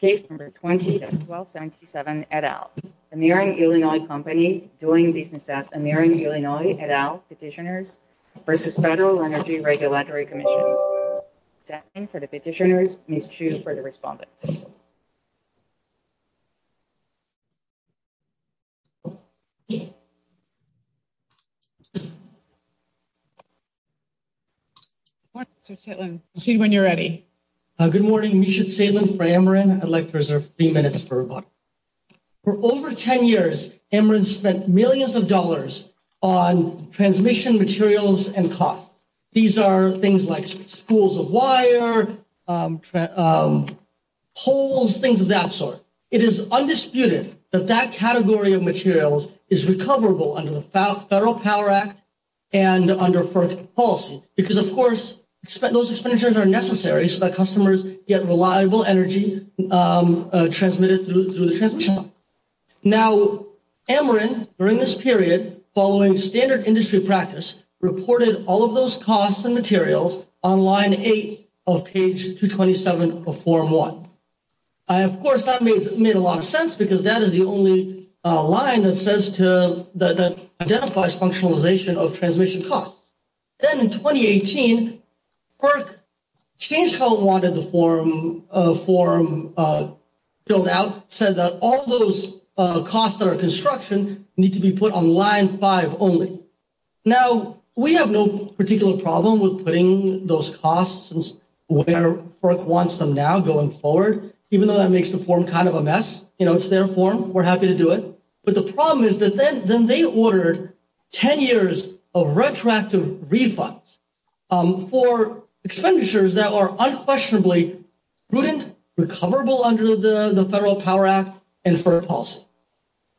Case No. 20-1277, et al. Ameren Illinois Company doing business as Ameren Illinois et al. Petitioners v. Federal Energy Regulatory Commission. Time for the petitioners. Ms. Chu for the respondent. Good morning, Mr. Saitlin. Proceed when you're ready. Good morning. Misha Saitlin for Ameren. I'd like to reserve three minutes for rebuttal. For over 10 years, Ameren spent millions of dollars on transmission materials and cost. These are things like schools of wire, poles, things of that sort. It is undisputed that that category of materials is recoverable under the Federal Power Act and under FERC policy. Because, of course, those expenditures are necessary so that customers get reliable energy transmitted through the transmission line. Now, Ameren, during this period, following standard industry practice, reported all of those costs and materials on Line 8 of Page 227 of Form 1. Of course, that made a lot of sense because that is the only line that identifies functionalization of transmission costs. Then in 2018, FERC changed how it wanted the form filled out, said that all those costs that are construction need to be put on Line 5 only. Now, we have no particular problem with putting those costs where FERC wants them now going forward, even though that makes the form kind of a mess. You know, it's their form. We're happy to do it. But the problem is that then they ordered 10 years of retroactive refunds for expenditures that are unquestionably prudent, recoverable under the Federal Power Act, and FERC policy.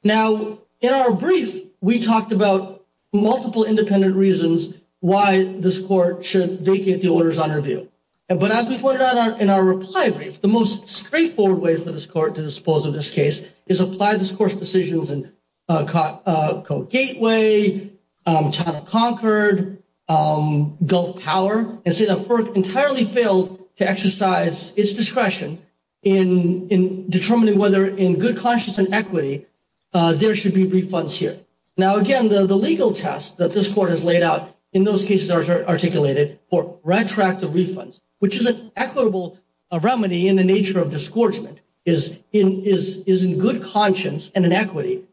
Now, in our brief, we talked about multiple independent reasons why this court should vacate the orders on review. But as we pointed out in our reply brief, the most straightforward way for this court to dispose of this case is apply this court's decisions in Code Gateway, China Concord, Gulf Power, and say that FERC entirely failed to exercise its discretion in determining whether, in good conscience and equity, there should be refunds here. Now, again, the legal test that this court has laid out in those cases articulated for retroactive refunds, which is an equitable remedy in the nature of disgorgement, is in good conscience and in equity.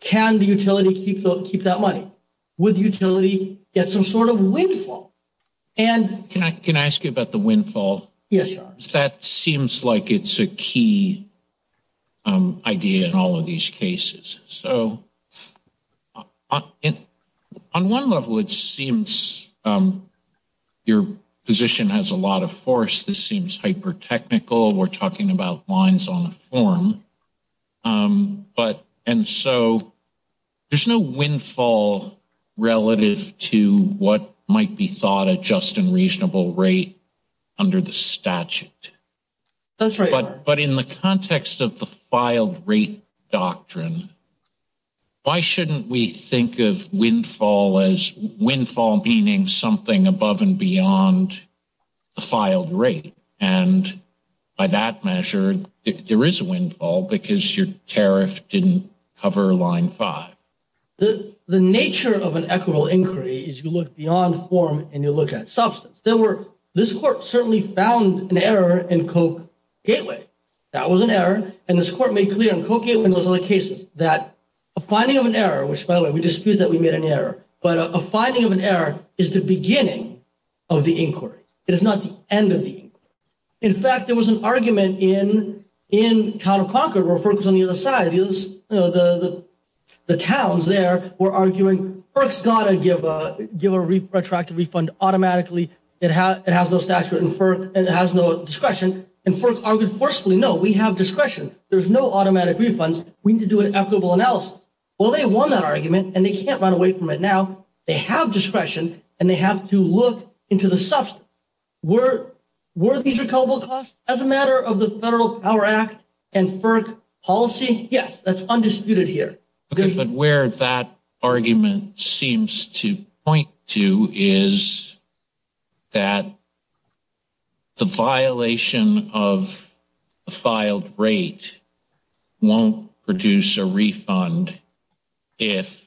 Can the utility keep that money? Would the utility get some sort of windfall? Can I ask you about the windfall? Yes. That seems like it's a key idea in all of these cases. So on one level, it seems your position has a lot of force. This seems hyper-technical. We're talking about lines on a form. And so there's no windfall relative to what might be thought a just and reasonable rate under the statute. That's right. But in the context of the filed rate doctrine, why shouldn't we think of windfall as windfall meaning something above and beyond the filed rate? And by that measure, there is a windfall because your tariff didn't cover line five. The nature of an equitable inquiry is you look beyond form and you look at substance. This court certainly found an error in Koch-Gateway. That was an error. And this court made clear in Koch-Gateway and those other cases that a finding of an error, which, by the way, we dispute that we made an error, but a finding of an error is the beginning of the inquiry. It is not the end of the inquiry. In fact, there was an argument in Town of Concord where FERC was on the other side. The towns there were arguing FERC's got to give a retracted refund automatically. It has no statute and FERC has no discretion. And FERC argued forcefully, no, we have discretion. There's no automatic refunds. We need to do an equitable analysis. Well, they won that argument, and they can't run away from it now. They have discretion, and they have to look into the substance. Were these recoverable costs as a matter of the Federal Power Act and FERC policy? Yes, that's undisputed here. Okay, but where that argument seems to point to is that the violation of a filed rate won't produce a refund if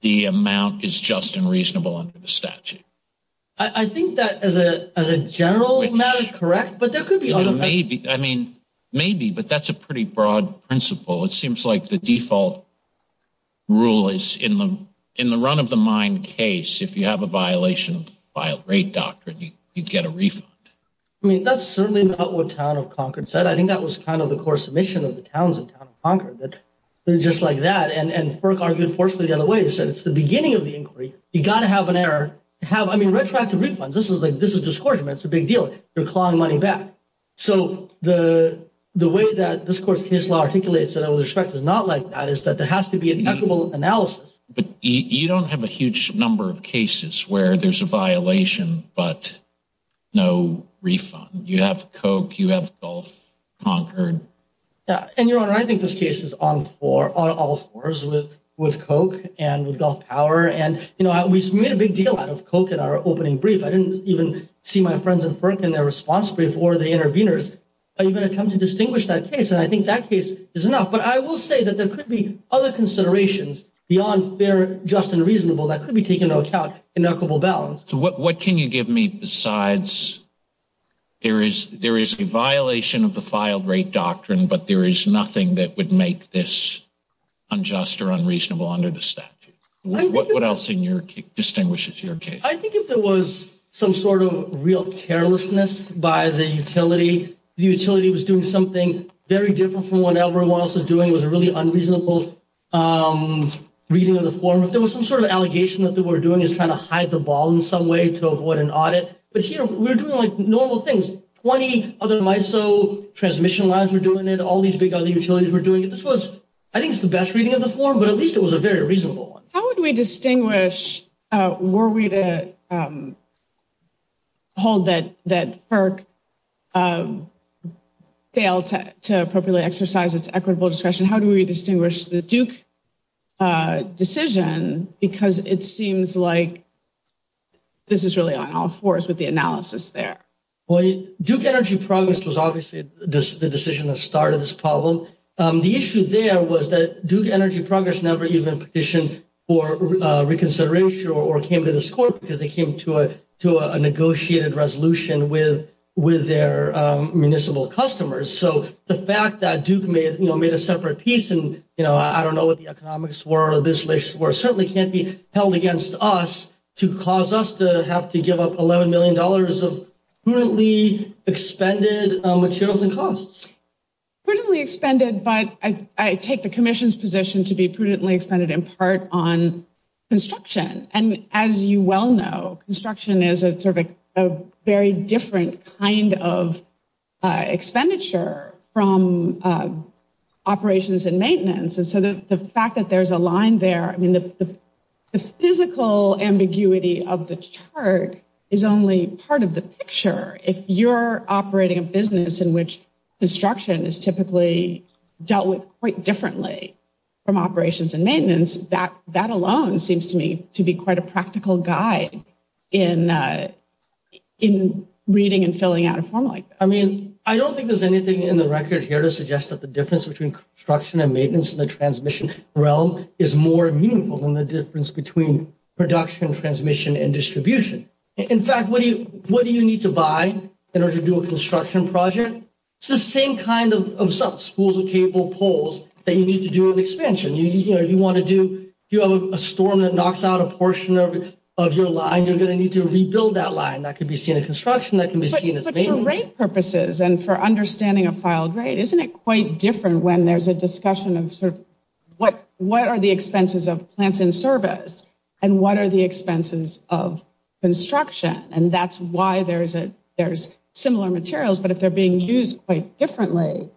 the amount is just and reasonable under the statute. I think that as a general matter, correct, but there could be automatic. Maybe, but that's a pretty broad principle. It seems like the default rule is in the run-of-the-mind case, if you have a violation of filed rate doctrine, you'd get a refund. I mean, that's certainly not what Town of Concord said. I think that was kind of the core submission of the towns in Town of Concord, that it was just like that. And FERC argued forcefully the other way. It said it's the beginning of the inquiry. You've got to have an error. I mean, retroactive refunds, this is discouragement. It's a big deal. You're clawing money back. So the way that this court's case law articulates it out of respect is not like that. It's that there has to be an equitable analysis. But you don't have a huge number of cases where there's a violation but no refund. You have Koch. You have Gulf, Concord. And, Your Honor, I think this case is on all fours with Koch and with Gulf Power. And, you know, we made a big deal out of Koch in our opening brief. I didn't even see my friends at FERC in their response brief or the interveners. Are you going to come to distinguish that case? And I think that case is enough. But I will say that there could be other considerations beyond fair, just, and reasonable that could be taken into account in equitable balance. So what can you give me besides there is a violation of the filed rate doctrine, but there is nothing that would make this unjust or unreasonable under the statute? What else in your case distinguishes your case? I think if there was some sort of real carelessness by the utility, the utility was doing something very different from what everyone else was doing. It was a really unreasonable reading of the form. If there was some sort of allegation that they were doing is trying to hide the ball in some way to avoid an audit. But here we're doing like normal things. Twenty other MISO transmission lines were doing it. All these big other utilities were doing it. This was, I think, the best reading of the form, but at least it was a very reasonable one. How would we distinguish? Were we to hold that FERC failed to appropriately exercise its equitable discretion? How do we distinguish the Duke decision? Because it seems like this is really on all fours with the analysis there. Well, Duke Energy Progress was obviously the decision that started this problem. The issue there was that Duke Energy Progress never even petitioned for reconsideration or came to this court because they came to a negotiated resolution with their municipal customers. So the fact that Duke made a separate piece, and I don't know what the economics were, or this relationship were, certainly can't be held against us to cause us to have to give up $11 million of prudently expended materials and costs. Prudently expended, but I take the commission's position to be prudently expended in part on construction. And as you well know, construction is a very different kind of expenditure from operations and maintenance. And so the fact that there's a line there, I mean, the physical ambiguity of the chart is only part of the picture. If you're operating a business in which construction is typically dealt with quite differently from operations and maintenance, that alone seems to me to be quite a practical guide in reading and filling out a form like that. I mean, I don't think there's anything in the record here to suggest that the difference between construction and maintenance in the transmission realm is more meaningful than the difference between production, transmission, and distribution. In fact, what do you need to buy in order to do a construction project? It's the same kind of schools of cable poles that you need to do an expansion. If you have a storm that knocks out a portion of your line, you're going to need to rebuild that line. That can be seen in construction. That can be seen as maintenance. But for rate purposes and for understanding a filed rate, isn't it quite different when there's a discussion of sort of what are the expenses of plants in service and what are the expenses of construction? And that's why there's similar materials. But if they're being used quite differently,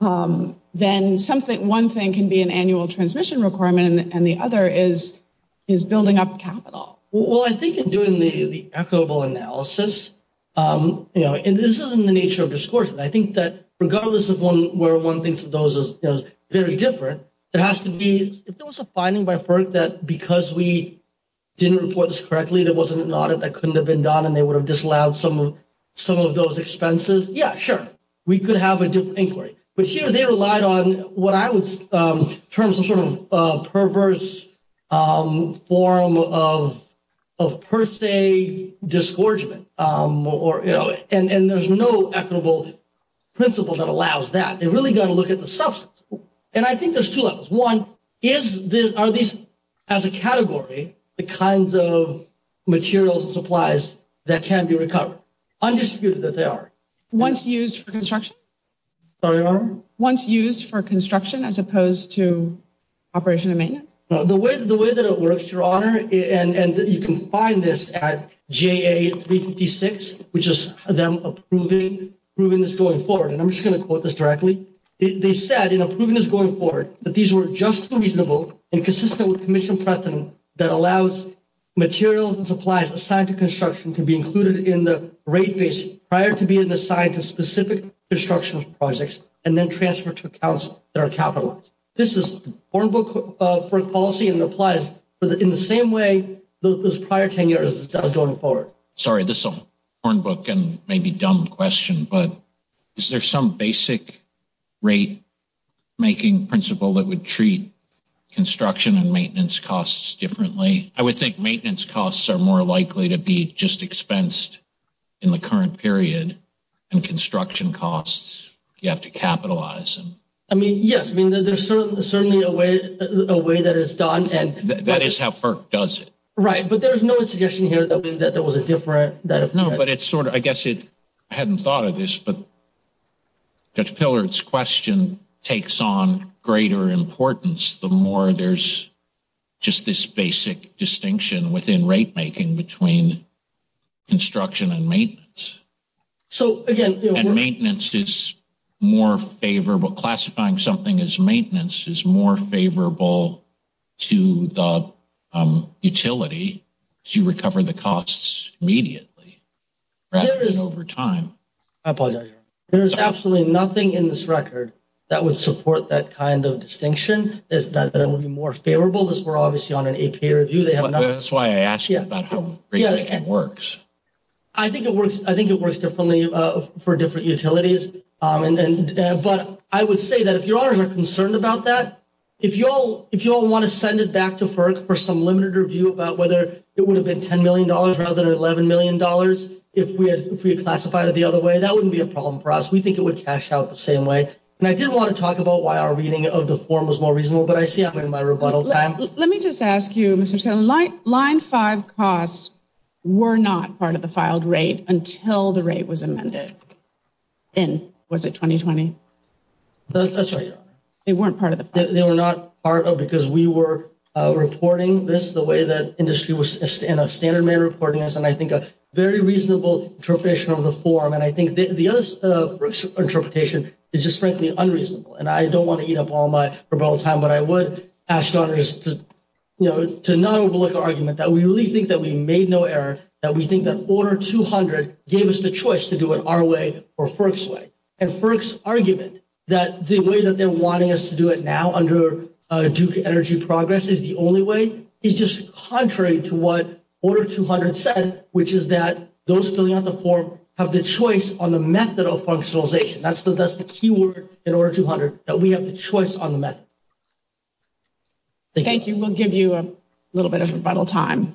then one thing can be an annual transmission requirement and the other is building up capital. Well, I think in doing the equitable analysis, and this is in the nature of discourse, I think that regardless of where one thinks of those as very different, it has to be if there was a finding by FERC that because we didn't report this correctly, there wasn't an audit that couldn't have been done and they would have disallowed some of those expenses. Yeah, sure. We could have a different inquiry. But here they relied on what I would term some sort of perverse form of per se disgorgement. And there's no equitable principle that allows that. They really got to look at the substance. And I think there's two levels. One, are these as a category the kinds of materials and supplies that can be recovered? Undisputed that they are. Once used for construction? Sorry, Your Honor? Once used for construction as opposed to operation and maintenance? The way that it works, Your Honor, and you can find this at JA356, which is them approving this going forward. And I'm just going to quote this directly. They said in approving this going forward that these were just reasonable and consistent with commission precedent that allows materials and supplies assigned to construction to be included in the rate base prior to being assigned to specific construction projects and then transferred to accounts that are capitalized. This is a foreign book for policy and applies in the same way those prior 10 years going forward. Sorry, this is a foreign book and maybe dumb question. But is there some basic rate making principle that would treat construction and maintenance costs differently? I would think maintenance costs are more likely to be just expensed in the current period. And construction costs, you have to capitalize them. I mean, yes. I mean, there's certainly a way that it's done. That is how FERC does it. Right. But there's no suggestion here that there was a different. I guess I hadn't thought of this, but Judge Pillard's question takes on greater importance the more there's just this basic distinction within rate making between construction and maintenance. And maintenance is more favorable. Classifying something as maintenance is more favorable to the utility as you recover the costs immediately rather than over time. I apologize. There is absolutely nothing in this record that would support that kind of distinction, that it would be more favorable. This were obviously on an APA review. That's why I asked you about how rate making works. I think it works differently for different utilities. But I would say that if your honors are concerned about that, if you all want to send it back to FERC for some limited review about whether it would have been $10 million rather than $11 million, if we had classified it the other way, that wouldn't be a problem for us. We think it would cash out the same way. And I did want to talk about why our reading of the form was more reasonable, but I see I'm in my rebuttal time. Let me just ask you, Mr. Snell, line five costs were not part of the filed rate until the rate was amended in, was it, 2020? That's right, your honor. They weren't part of the file. They were not part of it because we were reporting this the way that industry was in a standard manner reporting this, and I think a very reasonable interpretation of the form. And I think the other interpretation is just, frankly, unreasonable. And I don't want to eat up all my rebuttal time, but I would ask your honors to not overlook our argument that we really think that we made no error, that we think that Order 200 gave us the choice to do it our way or FERC's way. And FERC's argument that the way that they're wanting us to do it now under Duke Energy Progress is the only way is just contrary to what Order 200 said, which is that those filling out the form have the choice on the method of functionalization. That's the key word in Order 200, that we have the choice on the method. Thank you. We'll give you a little bit of rebuttal time.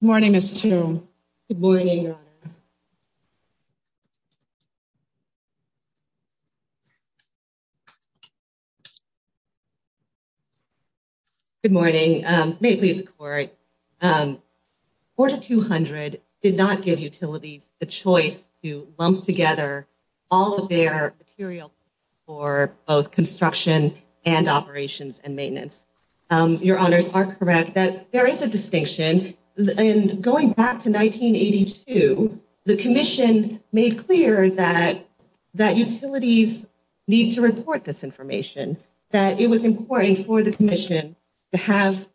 Good morning, Ms. Chu. Good morning, your honor. Good morning. May it please the court. Order 200 did not give utilities the choice to lump together all of their material for both construction and operations and maintenance. Your honors are correct that there is a distinction. Going back to 1982, the commission made clear that utilities need to report this information, that it was important for the commission to have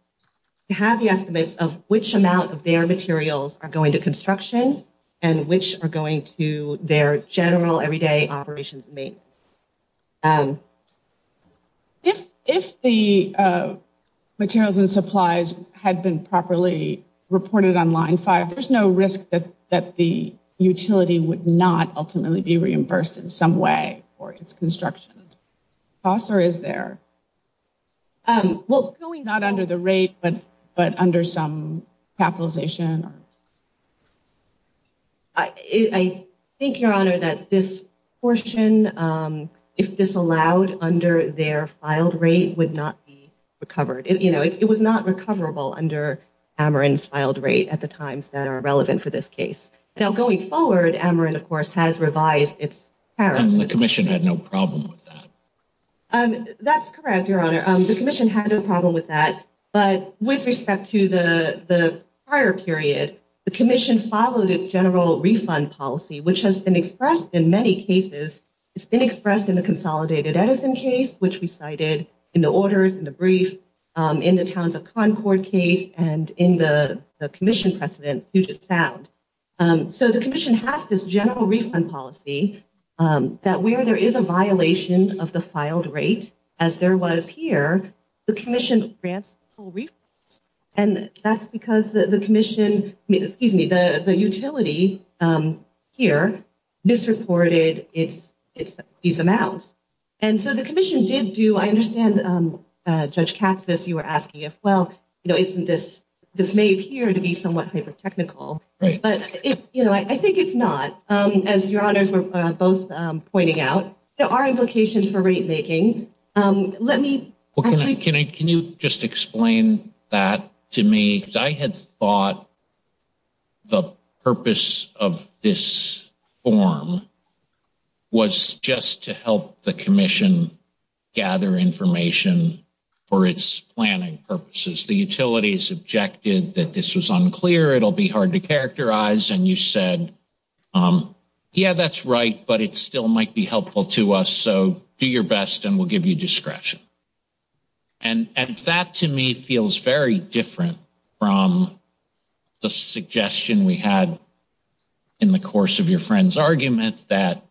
the estimates of which amount of their materials are going to construction and which are going to their general everyday operations and maintenance. If the materials and supplies had been properly reported on line five, there's no risk that the utility would not ultimately be reimbursed in some way for its construction. Costs are there. Well, going not under the rate, but under some capitalization. I think, your honor, that this portion, if this allowed under their filed rate, would not be recovered. You know, it was not recoverable under Ameren's filed rate at the times that are relevant for this case. Now, going forward, Ameren, of course, has revised its. And the commission had no problem with that. That's correct, your honor. The commission had no problem with that. But with respect to the prior period, the commission followed its general refund policy, which has been expressed in many cases. It's been expressed in the consolidated Edison case, which we cited in the orders, in the brief, in the towns of Concord case and in the commission precedent, Puget Sound. So the commission has this general refund policy that where there is a violation of the filed rate, as there was here, the commission grants full refunds. And that's because the commission, excuse me, the utility here misreported these amounts. And so the commission did do, I understand, Judge Katsas, you were asking if, well, you know, isn't this, this may appear to be somewhat hyper technical. But, you know, I think it's not. As your honors were both pointing out, there are implications for rate making. Let me. Can you just explain that to me? I had thought the purpose of this form was just to help the commission gather information for its planning purposes. The utilities objected that this was unclear, it'll be hard to characterize. And you said, yeah, that's right. But it still might be helpful to us. So do your best and we'll give you discretion. And that, to me, feels very different from the suggestion we had in the course of your friend's argument, that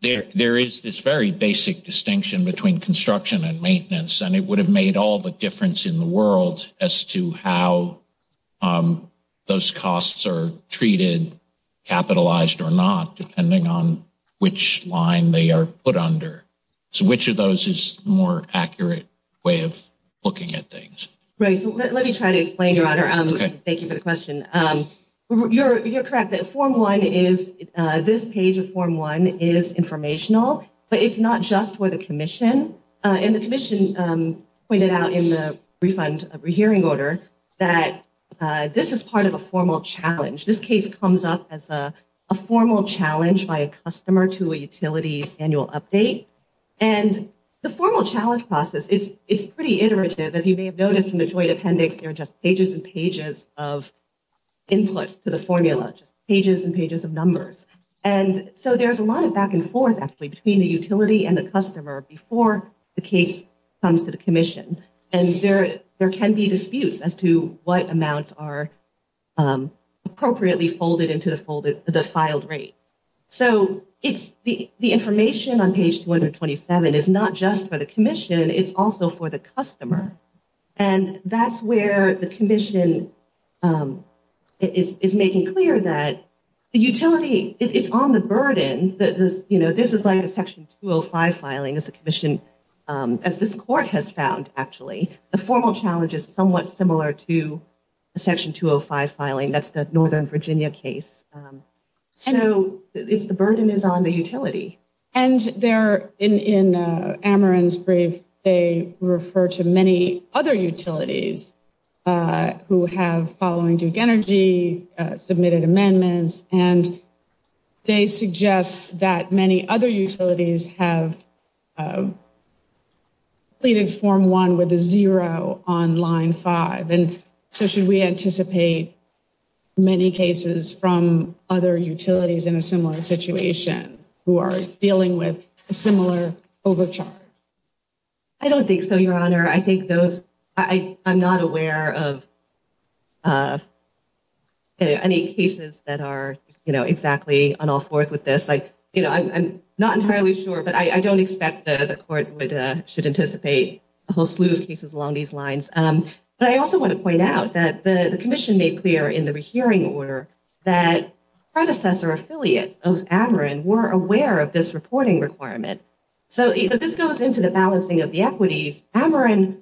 there is this very basic distinction between construction and maintenance. And it would have made all the difference in the world as to how those costs are treated, capitalized or not, depending on which line they are put under. So which of those is more accurate way of looking at things? Right. Let me try to explain, your honor. Thank you for the question. You're correct that form one is, this page of form one is informational, but it's not just for the commission. And the commission pointed out in the refund of rehearing order that this is part of a formal challenge. This case comes up as a formal challenge by a customer to a utility's annual update. And the formal challenge process, it's pretty iterative. As you may have noticed in the joint appendix, there are just pages and pages of inputs to the formula, just pages and pages of numbers. And so there's a lot of back and forth actually between the utility and the customer before the case comes to the commission. And there can be disputes as to what amounts are appropriately folded into the filed rate. So the information on page 227 is not just for the commission, it's also for the customer. And that's where the commission is making clear that the utility is on the burden. This is like a section 205 filing as the commission, as this court has found actually. The formal challenge is somewhat similar to a section 205 filing. That's the Northern Virginia case. And in Ameren's brief, they refer to many other utilities who have following Duke Energy, submitted amendments. And they suggest that many other utilities have completed form one with a zero on line five. And so should we anticipate many cases from other utilities in a similar situation who are dealing with a similar overcharge? I don't think so, Your Honor. I think those, I'm not aware of any cases that are, you know, exactly on all fours with this. Like, you know, I'm not entirely sure, but I don't expect the court should anticipate a whole slew of cases along these lines. But I also want to point out that the commission made clear in the rehearing order that predecessor affiliates of Ameren were aware of this reporting requirement. So this goes into the balancing of the equities. Ameren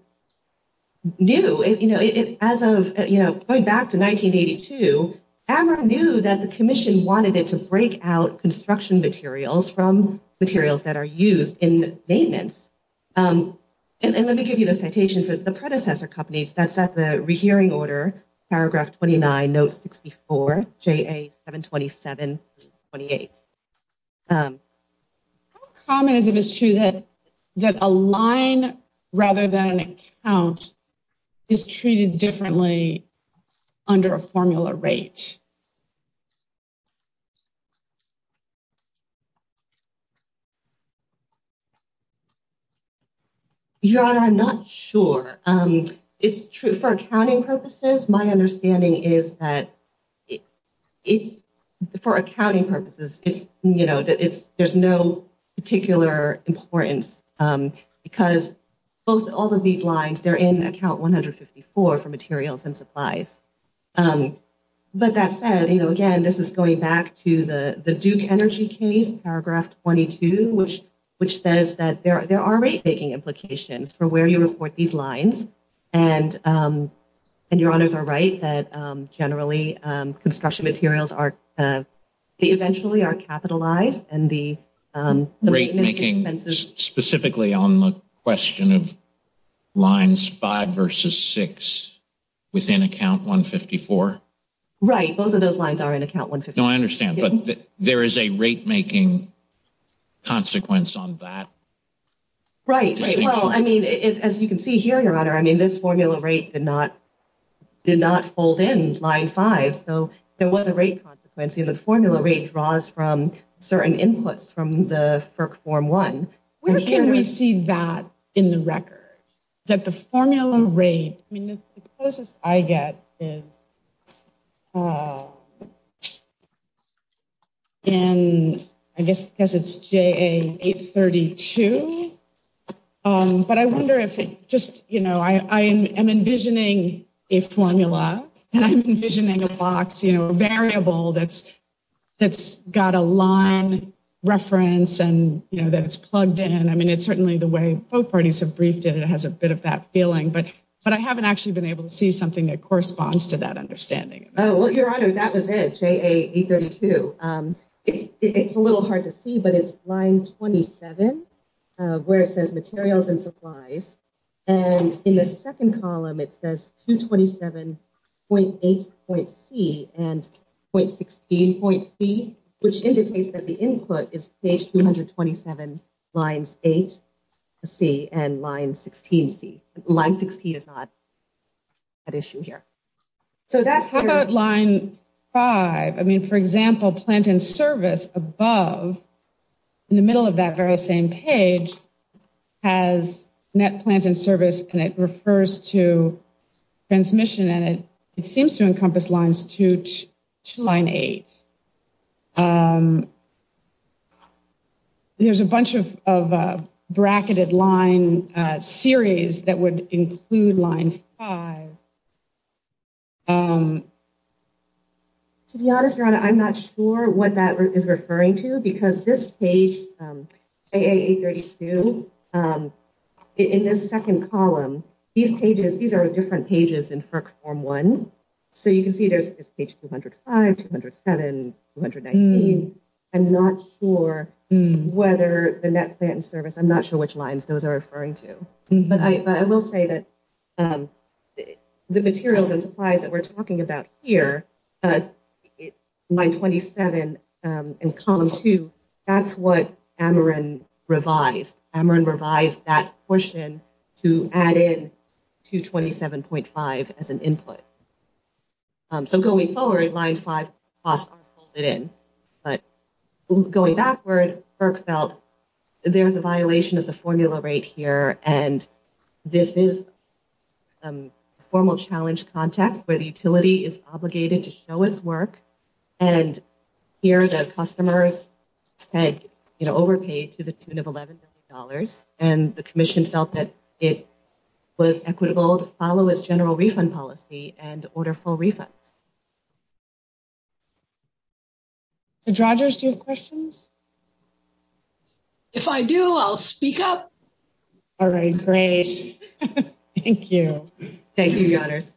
knew, you know, as of, you know, going back to 1982, Ameren knew that the commission wanted it to break out construction materials from materials that are used in maintenance. And let me give you the citation for the predecessor companies. That's at the rehearing order, paragraph 29, note 64, JA 727-28. How common is it, Ms. Chu, that a line rather than an account is treated differently under a formula rate? Your Honor, I'm not sure. It's true for accounting purposes. My understanding is that it's, for accounting purposes, it's, you know, there's no particular importance because all of these lines, they're in account 154 for materials and supplies. But that said, you know, again, this is going back to the Duke Energy case, paragraph 22, which says that there are rate making implications for where you report these lines. And your honors are right that generally construction materials are, they eventually are capitalized. And the rate making, specifically on the question of lines five versus six within account 154. Right. Both of those lines are in account 154. No, I understand. But there is a rate making consequence on that. Right. Well, I mean, as you can see here, your honor, I mean, this formula rate did not fold in line five. So there was a rate consequence. The formula rate draws from certain inputs from the FERC form one. Where can we see that in the record? That the formula rate, I mean, the closest I get is in, I guess because it's JA 832. But I wonder if it just, you know, I am envisioning a formula. And I'm envisioning a box, you know, a variable that's got a line reference and, you know, that it's plugged in. I mean, it's certainly the way both parties have briefed it and it has a bit of that feeling. But I haven't actually been able to see something that corresponds to that understanding. Oh, well, your honor, that was it, JA 832. It's a little hard to see, but it's line 27 where it says materials and supplies. And in the second column, it says 227.8.C and .16.C, which indicates that the input is page 227, lines 8C and line 16C. Line 16 is not at issue here. How about line 5? I mean, for example, plant and service above, in the middle of that very same page, has net plant and service. And it refers to transmission. And it seems to encompass lines 2 to line 8. There's a bunch of bracketed line series that would include line 5. To be honest, your honor, I'm not sure what that is referring to because this page, JA 832, in this second column, these pages, these are different pages in FERC form 1. So you can see there's page 205, 207, 219. I'm not sure whether the net plant and service, I'm not sure which lines those are referring to. But I will say that the materials and supplies that we're talking about here, line 27 and column 2, that's what Ameren revised. Ameren revised that portion to add in 227.5 as an input. So going forward, line 5 costs are folded in. But going backward, FERC felt there was a violation of the formula rate here. And this is a formal challenge context where the utility is obligated to show its work. And here the customers had overpaid to the tune of $11 million. And the commission felt that it was equitable to follow its general refund policy and order full refunds. Judge Rogers, do you have questions? If I do, I'll speak up. All right, great. Thank you. Thank you, Your Honors.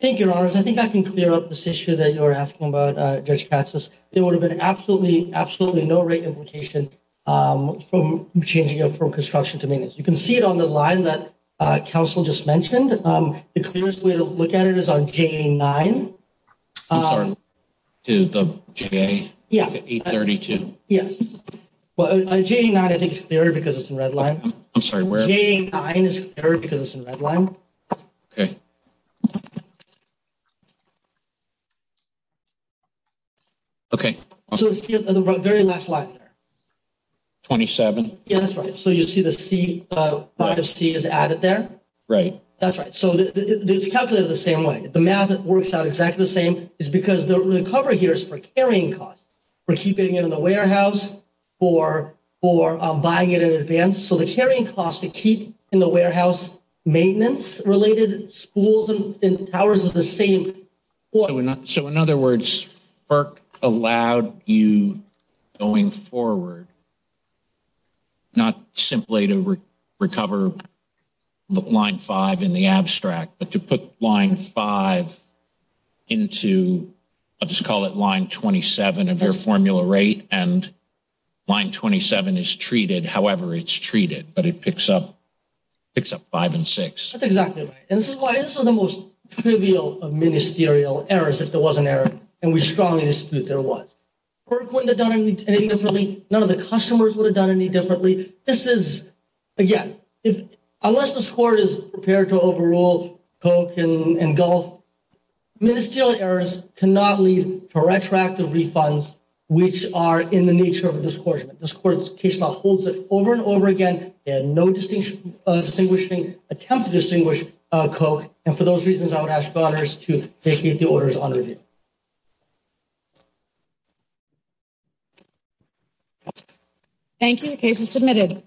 Thank you, Your Honors. I think I can clear up this issue that you were asking about, Judge Katsas. There would have been absolutely, absolutely no rate implication from changing it from construction to maintenance. You can see it on the line that counsel just mentioned. The clearest way to look at it is on J9. I'm sorry, to the J832? Yes. Well, J9 I think is clear because it's in red line. I'm sorry, where? J9 is clear because it's in red line. Okay. Okay. So it's the very last line there. 27? That's right. So you see the C, 5C is added there? Right. That's right. So it's calculated the same way. The math works out exactly the same. It's because the recovery here is for carrying costs, for keeping it in the warehouse, for buying it in advance. So the carrying cost to keep in the warehouse maintenance-related schools and towers is the same. So in other words, FERC allowed you going forward not simply to recover line 5 in the abstract, but to put line 5 into, I'll just call it line 27 of your formula rate, and line 27 is treated however it's treated, but it picks up 5 and 6. That's exactly right. And this is why this is the most trivial of ministerial errors, if there was an error, and we strongly dispute there was. FERC wouldn't have done anything differently. None of the customers would have done anything differently. This is, again, unless this court is prepared to overrule Coke and Gulf, ministerial errors cannot lead to retroactive refunds, which are in the nature of a discouragement. This court's case law holds it over and over again, and no attempt to distinguish Coke, and for those reasons, I would ask your honors to vacate the orders on review. Thank you. The case is submitted.